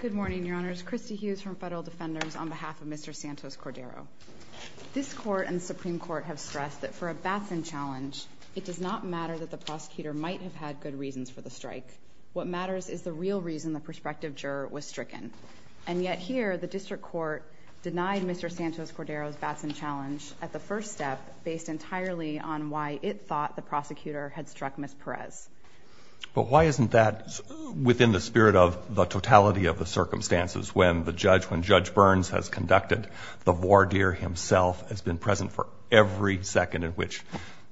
Good morning, Your Honors. Christy Hughes from Federal Defenders on behalf of Mr. Santos-Cordero. This Court and the Supreme Court have stressed that for a Batson challenge, it does not matter that the prosecutor might have had good reasons for the strike. What matters is the real reason the prospective juror was stricken. And yet here, the District Court denied Mr. Santos-Cordero's Batson challenge at the first step based entirely on why it thought the prosecutor had struck Ms. Perez. But why isn't that within the spirit of the totality of the circumstances when the judge, when Judge Burns has conducted the voir dire himself has been present for every second in which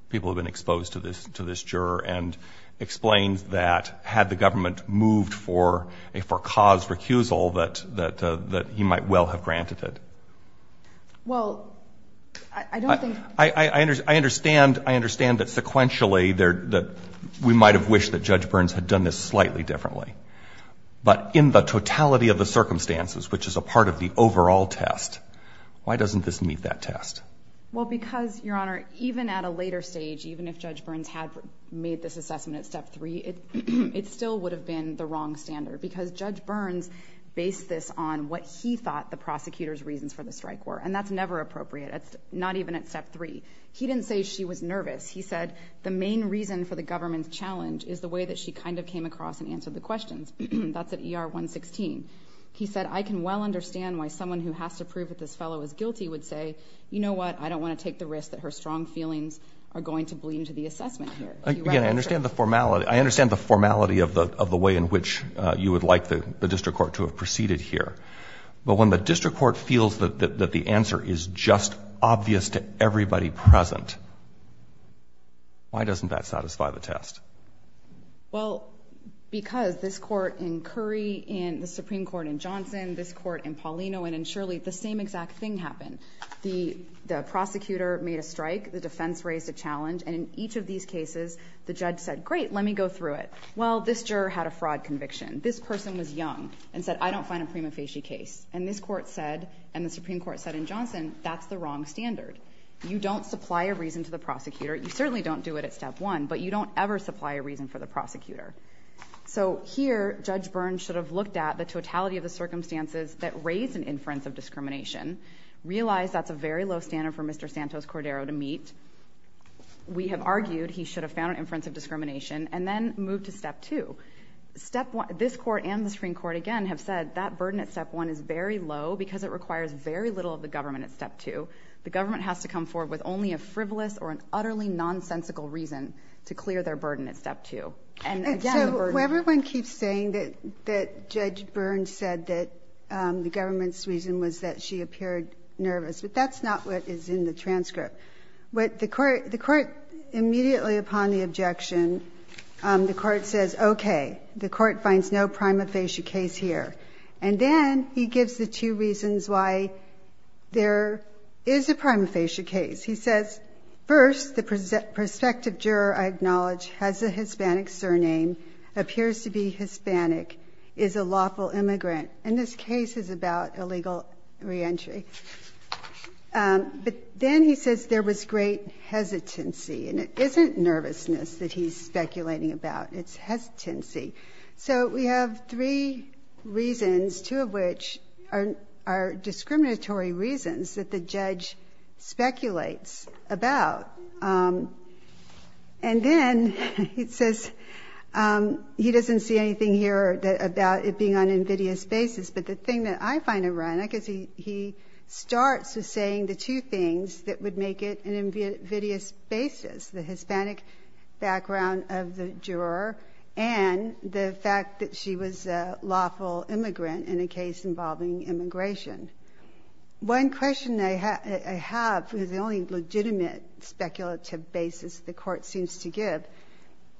people have been exposed to this juror and explains that had the government moved for a for cause recusal that he might well have granted it? Well, I don't think I understand. I understand that sequentially, we might have wished that Judge Burns had done this slightly differently. But in the totality of the circumstances, which is a part of the overall test, why doesn't this meet that test? Well, because, Your Honor, even at a later stage, even if Judge Burns had made this assessment at step three, it still would have been the wrong standard because Judge Burns based this on what he thought the prosecutor's reasons for the strike were. And that's never appropriate. That's not even at step three. He didn't say she was nervous. He said the main reason for the government's challenge is the way that she kind of came across and answered the questions. That's at ER 116. He said, I can well understand why someone who has to prove that this fellow is guilty would say, you know what, I don't want to take the risk that her strong feelings are going to bleed into the assessment here. Again, I understand the formality. I understand the formality of the way in which you would like the district court to have proceeded here. But when the district court feels that the answer is just obvious to everybody present, why doesn't that satisfy the test? Well, because this Court in Curry and the Supreme Court in Johnson, this Court in Paulino and in Shirley, the same exact thing happened. The prosecutor made a strike. The defense raised a challenge. And in each of these cases, the judge said, great, let me go through it. Well, this juror had a fraud conviction. This person was young and said, I don't find a reason. The Supreme Court said in Johnson, that's the wrong standard. You don't supply a reason to the prosecutor. You certainly don't do it at step one, but you don't ever supply a reason for the prosecutor. So here, Judge Byrne should have looked at the totality of the circumstances that raised an inference of discrimination, realized that's a very low standard for Mr. Santos-Cordero to meet. We have argued he should have found an inference of discrimination, and then moved to step two. This Court and the Supreme Court, again, have said that burden at step one is very low because it requires very little of the government at step two. The government has to come forward with only a frivolous or an utterly nonsensical reason to clear their burden at step two. And so everyone keeps saying that Judge Byrne said that the government's reason was that she appeared nervous, but that's not what is in the transcript. The Court immediately upon the objection, the Court says, okay, the Court finds no prima facie case here. And then he gives the two reasons why there is a prima facie case. He says, first, the prospective juror, I acknowledge, has a Hispanic surname, appears to be Hispanic, is a lawful immigrant, and this case is about illegal reentry. But then he says there was great hesitancy, and it isn't nervousness that he's speculating about. It's hesitancy. So we have three reasons, two of which are discriminatory reasons that the judge speculates about. And then he says he doesn't see anything here about it being on an invidious basis, but the thing that I find ironic is he starts with saying the two things that would make it an invidious basis, the Hispanic background of the juror and the fact that she was a lawful immigrant in a case involving immigration. One question I have is the only legitimate speculative basis the Court seems to give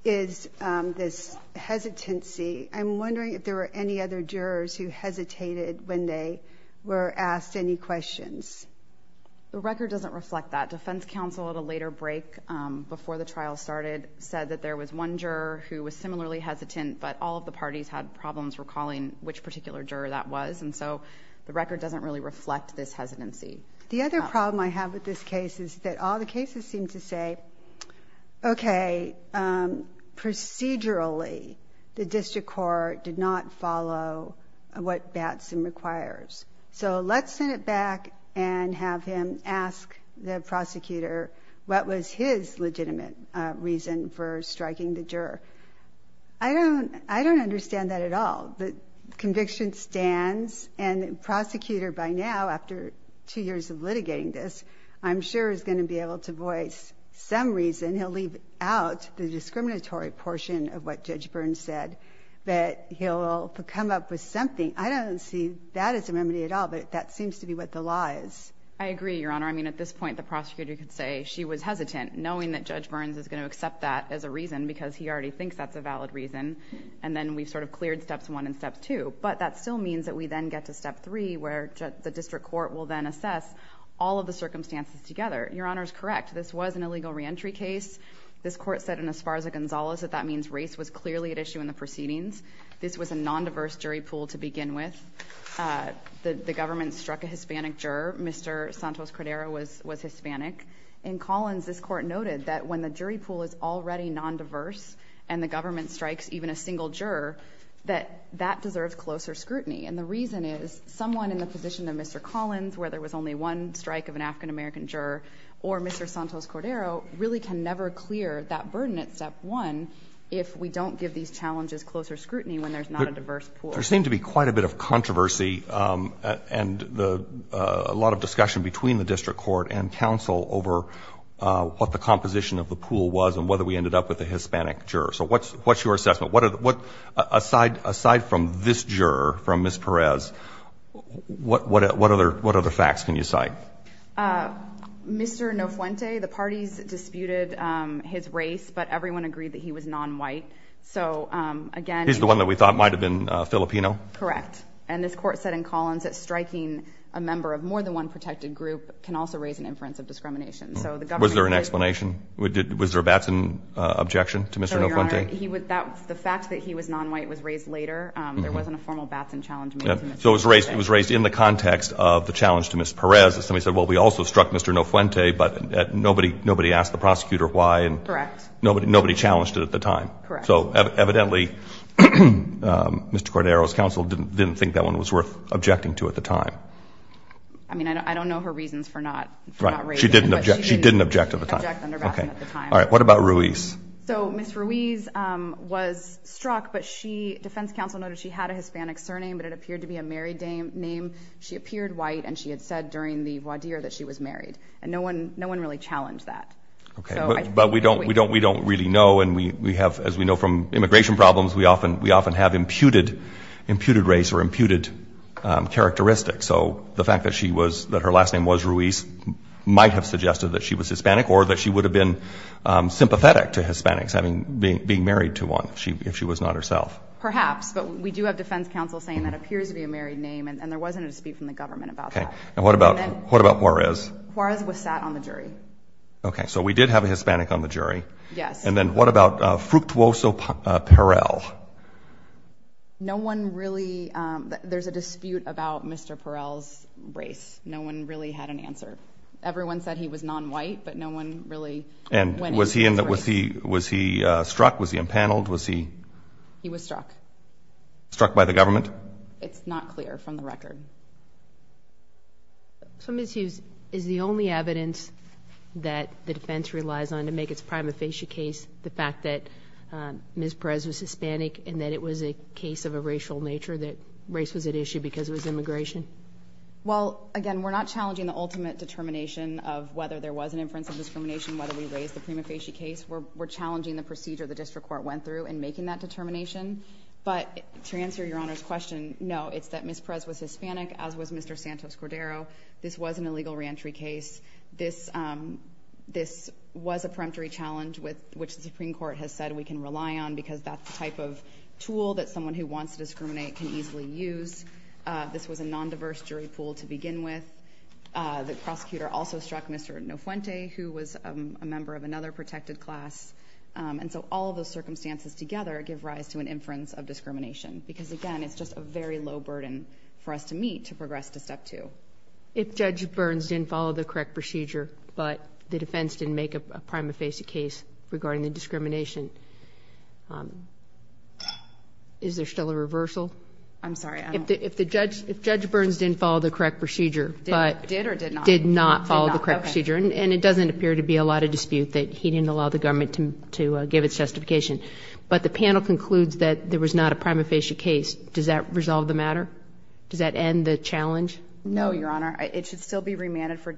is this hesitancy. I'm wondering if there were any other jurors who hesitated when they were asked any questions. The record doesn't reflect that. Defense counsel at a later break before the trial started said that there was one juror who was similarly hesitant, but all of the parties had problems recalling which particular juror that was, and so the record doesn't really reflect this hesitancy. The other problem I have with this case is that all the cases seem to say, okay, procedurally, the district court did not follow what Batson requires. So let's send it back and have him ask the prosecutor what was his legitimate reason for striking the juror. I don't understand that at all. The conviction stands, and the prosecutor by now, after two years of litigating this, I'm sure is going to be able to voice some reason. He'll leave out the discriminatory portion of what Judge Burns said, but he'll come up with something. I don't see that as a remedy at all, but that seems to be what the lie is. I agree, Your Honor. I mean, at this point, the prosecutor could say she was hesitant, knowing that Judge Burns is going to accept that as a reason because he already thinks that's a valid reason, and then we sort of cleared steps one and step two. But that still means that we then get to step three, where the district court will then assess all of the circumstances together. Your Honor is correct. This was an illegal reentry case. This Court said in Esparza-Gonzalez that that means race was clearly at issue in the proceedings. This was a non-diverse jury pool to begin with. The government struck a Hispanic juror. Mr. Santos-Cordero was Hispanic. In Collins, this Court noted that when the jury pool is already non-diverse, and the government strikes even a single juror, that that deserves closer scrutiny. And the reason is, someone in the position of Mr. Collins, where there was only one strike of an African-American juror, or Mr. Santos-Cordero, really can never clear that burden at step one if we don't give these challenges closer scrutiny when there's not a diverse pool. There seemed to be quite a bit of controversy and a lot of discussion between the district court and counsel over what the composition of the pool was and whether we ended up with a Hispanic juror. So what's your assessment? Aside from this juror, from Ms. Perez, what other facts can you cite? Mr. Nofuente, the parties disputed his race, but everyone agreed that he was non-white. So again... He's the one that we thought might have been Filipino? Correct. And this Court said in Collins that striking a member of more than one protected group can also raise an inference of discrimination. Was there an explanation? Was there a Batson objection to Mr. Nofuente? The fact that he was non-white was raised later. There wasn't a formal Batson challenge made to Mr. Nofuente. So it was raised in the context of the challenge to Ms. Perez. Somebody said, well, we also struck Mr. Nofuente, but nobody asked the prosecutor why. Correct. Nobody challenged it at the time. Correct. So evidently, Mr. Cordero's counsel didn't think that one was worth objecting to at the time. I mean, I don't know her reasons for not raising it, but she didn't object under Batson at the time. All right. What about Ruiz? So Ms. Ruiz was struck, but defense counsel noted she had a Hispanic surname, but it appeared to be a married name. She appeared white, and she had said during the voir dire that she was married. And no one really challenged that. But we don't really know, and as we know from immigration problems, we often have imputed race or imputed characteristics. So the fact that her last name was Ruiz might have suggested that she was Hispanic or that she would have been sympathetic to Hispanics being married to one if she was not herself. Perhaps, but we do have defense counsel saying that appears to be a married name, and there wasn't a speech from the government about that. Okay. And what about Juarez? Juarez was sat on the jury. Okay. So we did have a Hispanic on the jury. Yes. And then what about Fructuoso Perel? No one really, there's a dispute about Mr. Perel's race. No one really had an answer. Everyone said he was nonwhite, but no one really went into his race. And was he struck? Was he impaneled? Was he? He was struck. Struck by the government? It's not clear from the record. So Ms. Hughes, is the only evidence that the defense relies on to make its prima facie case the fact that Ms. Perez was Hispanic and that it was a case of a racial nature, that race was at issue because it was immigration? Well, again, we're not challenging the ultimate determination of whether there was an inference of discrimination, whether we raised the prima facie case. We're challenging the procedure the district court went through in making that determination. But to answer your Honor's question, no, it's that Ms. Perez was Hispanic, as was Mr. Santos Cordero. This was an illegal reentry case. This was a peremptory challenge which the Supreme Court has said we can rely on because that's the type of tool that someone who wants to discriminate can easily use. This was a non-diverse jury pool to begin with. The prosecutor also struck Mr. Nofuente, who was a member of another protected class. And so all of those circumstances together give rise to an inference of discrimination. Because again, it's just a very low burden for us to meet to progress to step two. If Judge Burns didn't follow the correct procedure, but the defense didn't make a prima facie case regarding the discrimination, is there still a reversal? I'm sorry, I don't... If Judge Burns didn't follow the correct procedure, but... Did or did not? Did or did not follow the correct procedure. And it doesn't appear to be a lot of dispute that he didn't allow the government to give its justification. But the panel concludes that there was not a prima facie case. Does that resolve the matter? Does that end the challenge? No, Your Honor. It should still be remanded for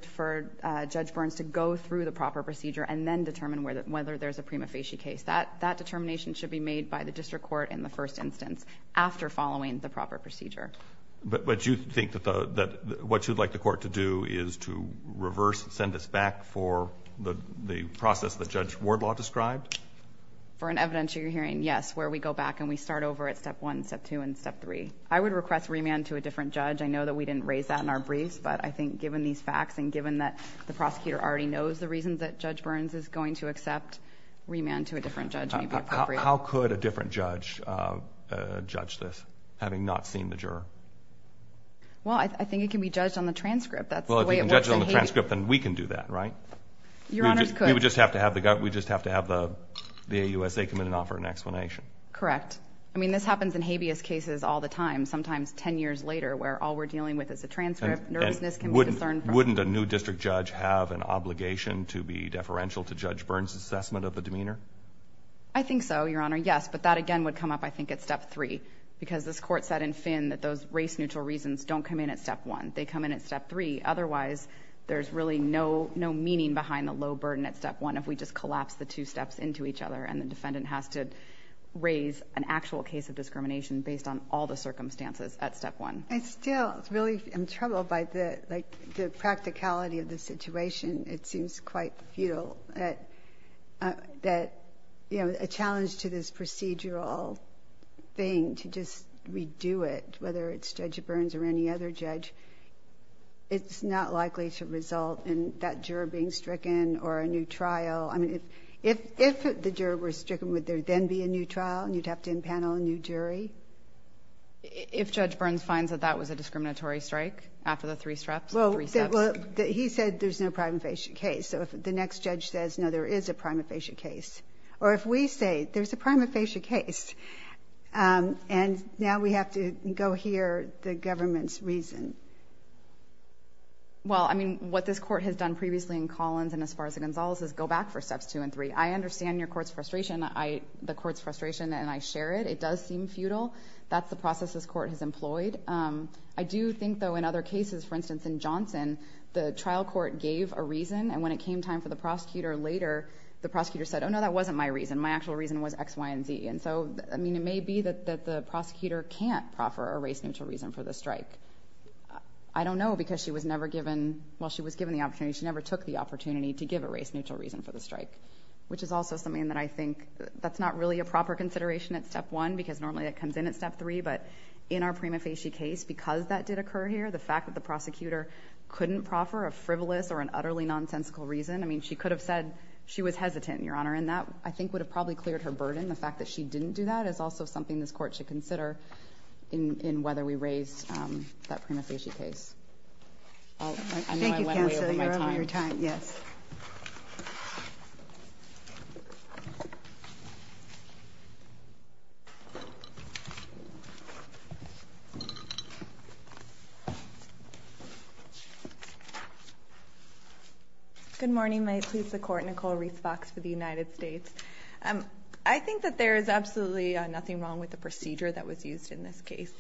Judge Burns to go through the proper procedure and then determine whether there's a prima facie case. That determination should be made by the district court in the first instance after following the proper procedure. But you think that what you'd like the court to do is to reverse, send us back for the process that Judge Wardlaw described? For an evidentiary hearing, yes, where we go back and we start over at step one, step two, and step three. I would request remand to a different judge. I know that we didn't raise that in our briefs, but I think given these facts and given that the prosecutor already knows the reasons that Judge Burns is going to accept, remand to a different judge may be appropriate. How could a different judge judge this, having not seen the juror? Well, I think it can be judged on the transcript. That's the way it works in habeas. Well, if it can be judged on the transcript, then we can do that, right? Your Honor, it could. We would just have to have the AUSA come in and offer an explanation. Correct. I mean, this happens in habeas cases all the time, sometimes ten years later, where all we're dealing with is a transcript. Nervousness can be discerned from... And wouldn't a new district judge have an obligation to be deferential to Judge Burns' assessment of the demeanor? I think so, Your Honor, yes. But that, again, would come up, I think, at Step 3. Because this Court said in Finn that those race-neutral reasons don't come in at Step 1. They come in at Step 3. Otherwise, there's really no meaning behind the low burden at Step 1 if we just collapse the two steps into each other and the defendant has to raise an actual case of discrimination based on all the circumstances at Step 1. I still really am troubled by the practicality of the situation. It seems quite futile that, you know, a challenge to this procedural thing to just redo it, whether it's Judge Burns or any other judge, it's not likely to result in that juror being stricken or a new trial. I mean, if the juror were stricken, would there then be a new trial and you'd have to impanel a new jury? If Judge Burns finds that that was a discriminatory strike after the three steps? Well, he said there's no prima facie case. So if the next judge says, no, there is a prima facie case. Or if we say, there's a prima facie case. And now we have to go hear the government's reason. Well, I mean, what this Court has done previously in Collins and as far as in Gonzalez is go back for Steps 2 and 3. I understand your Court's frustration, the Court's frustration, and I share it. It does seem futile. That's the process this Court has employed. I do think, though, in other cases, for instance, in Johnson, the trial court gave a reason and when it came time for the prosecutor later, the prosecutor said, oh, no, that wasn't my reason. My actual reason was X, Y, and Z. And so, I mean, it may be that the prosecutor can't proffer a race-neutral reason for the strike. I don't know because she was never given, well, she was given the opportunity, she never took the opportunity to give a race-neutral reason for the strike. Which is also something that I think, that's not really a proper consideration at Step 1 because normally it comes in at Step 3, but in our prima facie case, because that did occur here, the fact that the prosecutor couldn't proffer a frivolous or an utterly nonsensical reason, I mean, she could have said she was hesitant, Your Honor, and that, I think, would have probably cleared her burden. The fact that she didn't do that is also something this Court should consider in whether we raise that prima facie case. I know I went way over my time. Thank you, Counselor. You're over your time. Yes. Good morning. May it please the Court. Nicole Reese Fox for the United States. I think that there is absolutely nothing wrong with the procedure that was used in this case.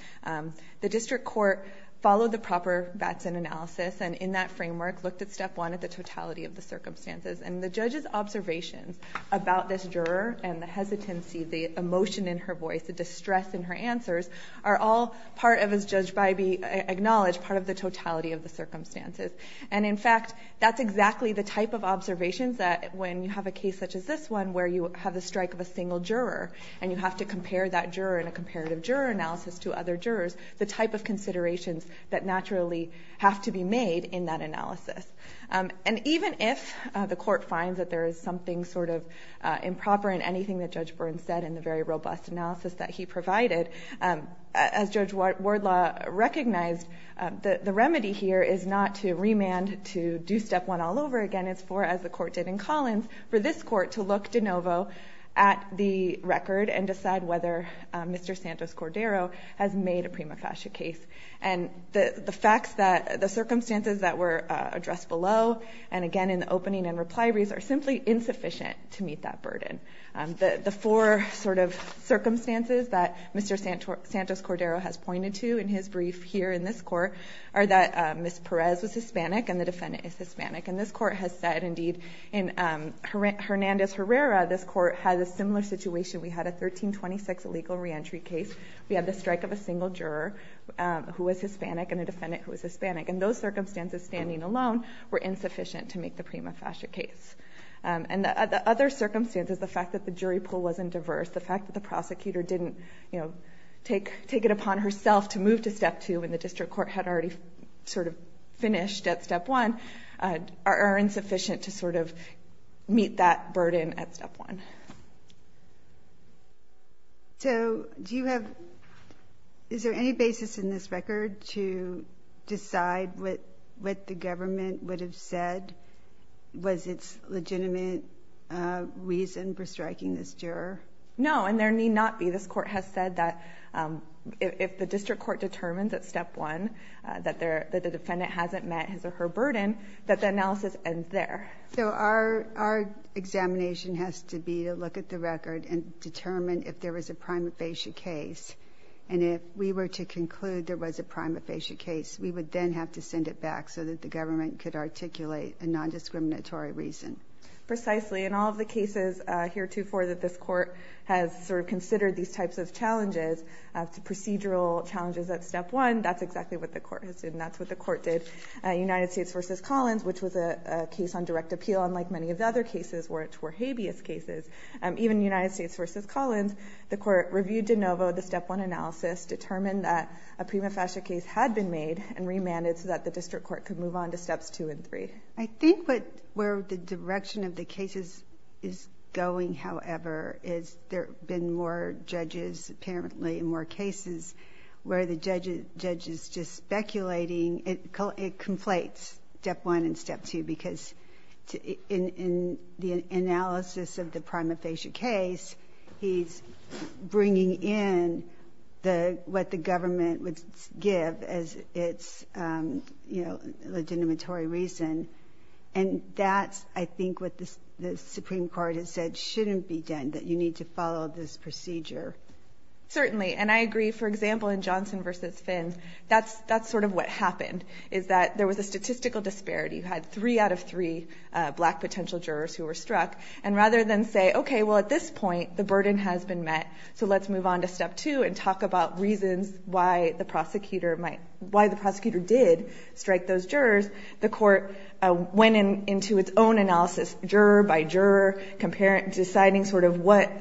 The District Court followed the proper Batson analysis and in that framework, looked at Step 1 at the totality of the circumstances and the judge's observations about this juror and the hesitancy, the emotion in her voice, the distress in her answers, are all part of, as Judge Bybee acknowledged, part of the totality of the circumstances. And in fact, that's exactly the type of observations that when you have a case such as this one where you have the strike of a single juror and you have to compare that juror in a comparative juror analysis to other jurors, the type of considerations that naturally have to be made in that analysis. And even if the Court finds that there is something sort of improper in anything that Judge Burns said in the very robust analysis that he provided, as Judge Wardlaw recognized, the remedy here is not to remand to do Step 1 all over again. It's for, as the Court did in Collins, for this Court to look de novo at the record and decide whether Mr. Santos Cordero has made a prima facie case. And the facts that, the circumstances that were addressed below, and again in the opening and reply reads, are simply insufficient to meet that burden. The four sort of circumstances that Mr. Santos Cordero has pointed to in his brief here in this Court are that Ms. Perez was Hispanic and the defendant is Hispanic. And this Court has said, indeed, in Hernandez-Herrera, this Court has a similar situation. We had a 1326 illegal reentry case. We had the strike of a single juror who was Hispanic and a defendant who was Hispanic. And those circumstances, standing alone, were insufficient to make the prima facie case. And the other circumstances, the fact that the jury pool wasn't diverse, the fact that the prosecutor didn't, you know, take it upon herself to move to Step 2 when the District Court had already sort of finished at Step 1, are insufficient to sort of meet that burden at Step 1. So, do you have, is there any basis in this record to decide what the government would have said was its legitimate reason for striking this juror? No, and there need not be. This Court has said that if the District Court determines at Step 1 that the defendant hasn't met his or her burden, that the analysis ends there. So our examination has to be to look at the record and determine if there was a prima facie case, and if we were to conclude there was a prima facie case, we would then have to send it back so that the government could articulate a non-discriminatory reason. Precisely, and all of the cases heretofore that this Court has sort of considered these types of challenges, procedural challenges at Step 1, that's exactly what the Court has done. In the case of United States v. Collins, which was a case on direct appeal, unlike many of the other cases, which were habeas cases, even United States v. Collins, the Court reviewed de novo the Step 1 analysis, determined that a prima facie case had been made and remanded so that the District Court could move on to Steps 2 and 3. I think where the direction of the cases is going, however, is there have been more judges apparently in more cases, where the judge is just speculating. It conflates Step 1 and Step 2, because in the analysis of the prima facie case, he's bringing in what the government would give as its, you know, legitimatory reason. And that's, I think, what the Supreme Court has said shouldn't be done, that you need to follow this procedure. Certainly. And I agree. For example, in Johnson v. Fins, that's sort of what happened, is that there was a statistical disparity. You had three out of three black potential jurors who were struck. And rather than say, okay, well, at this point, the burden has been met, so let's move on to Step 2 and talk about reasons why the prosecutor did strike those jurors, the Court went into its own analysis, juror by juror, deciding sort of what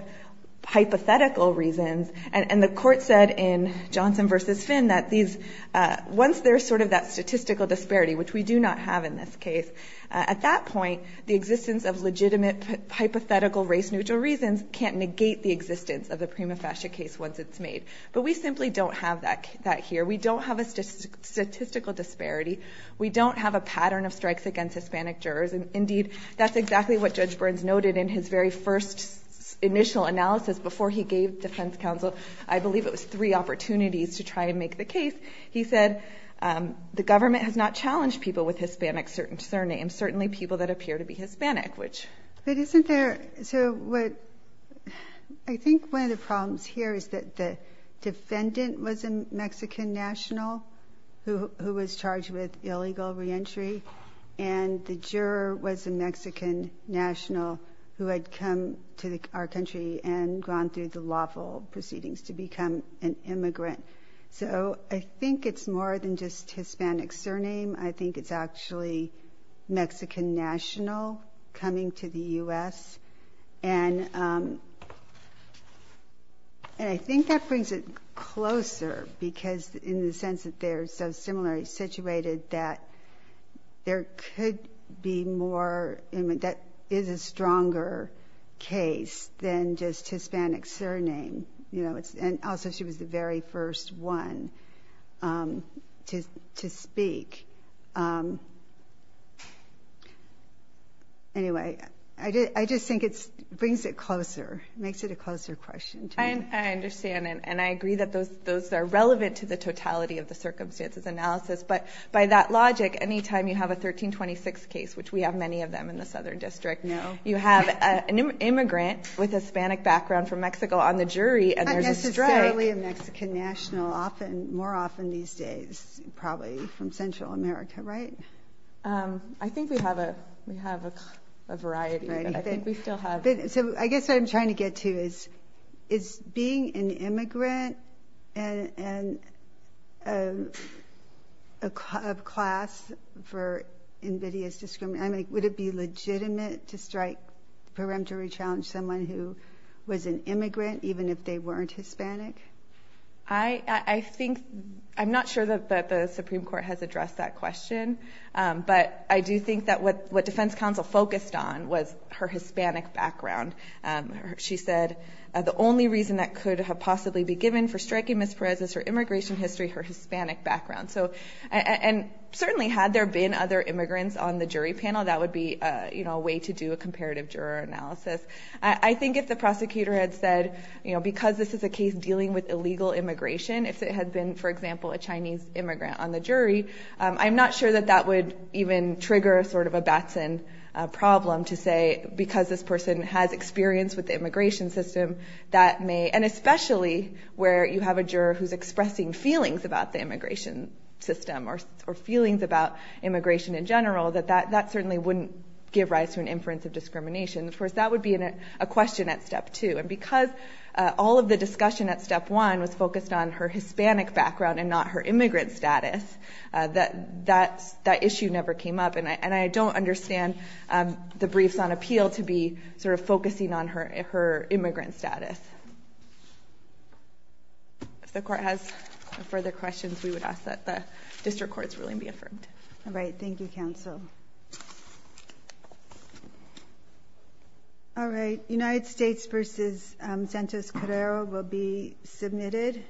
hypothetical reasons. And the Court said in Johnson v. Fins that once there's sort of that statistical disparity, which we do not have in this case, at that point, the existence of legitimate hypothetical race-neutral reasons can't negate the existence of the prima facie case once it's made. But we simply don't have that here. We don't have a statistical disparity. We don't have a pattern of strikes against Hispanic jurors. And indeed, that's exactly what Judge Burns noted in his very first initial analysis before he gave defense counsel, I believe it was three opportunities to try and make the case. He said, the government has not challenged people with Hispanic surnames, certainly people that appear to be Hispanic, which... But isn't there... So what... I think one of the problems here is that the defendant was a Mexican national who was charged with illegal reentry, and the juror was a Mexican national who had come to our country and gone through the lawful proceedings to become an immigrant. So I think it's more than just Hispanic surname. I think it's actually Mexican national coming to the U.S., and I think that brings it closer because in the sense that they're so similarly situated that there could be more... That is a stronger case than just Hispanic surname. And also, she was the very first one to speak. Anyway, I just think it brings it closer, makes it a closer question to me. I understand, and I agree that those are relevant to the totality of the circumstances analysis, but by that logic, any time you have a 1326 case, which we have many of them in the Southern District, you have an immigrant with a Hispanic background from Mexico on the jury, and there's a state... I guess it's rarely a Mexican national, often, more often these days, probably from Central America, right? I think we have a variety, but I think we still have... So I guess what I'm trying to get to is, is being an immigrant and a class for invidious discrimination, would it be legitimate to strike the peremptory challenge someone who was an immigrant, even if they weren't Hispanic? I think... I'm not sure that the Supreme Court has addressed that question, but I do think that what Defense Counsel focused on was her Hispanic background. She said, the only reason that could have possibly be given for striking Ms. Perez is her immigration history, her Hispanic background. And certainly, had there been other immigrants on the jury panel, that would be a way to do a comparative juror analysis. I think if the prosecutor had said, because this is a case dealing with illegal immigration, if it had been, for example, a Chinese immigrant on the jury, I'm not sure that that would even trigger sort of a Batson problem to say, because this person has experience with the immigration system, that may... And especially where you have a juror who's expressing feelings about the immigration system, or feelings about immigration in general, that that certainly wouldn't give rise to an inference of discrimination. Of course, that would be a question at step two, and because all of the discussion at step one was focused on her Hispanic background and not her immigrant status, that issue never came up. And I don't understand the briefs on appeal to be sort of focusing on her immigrant status. If the court has further questions, we would ask that the district courts willingly be affirmed. All right. Thank you, counsel. United States v. Santos Carrero will be submitted.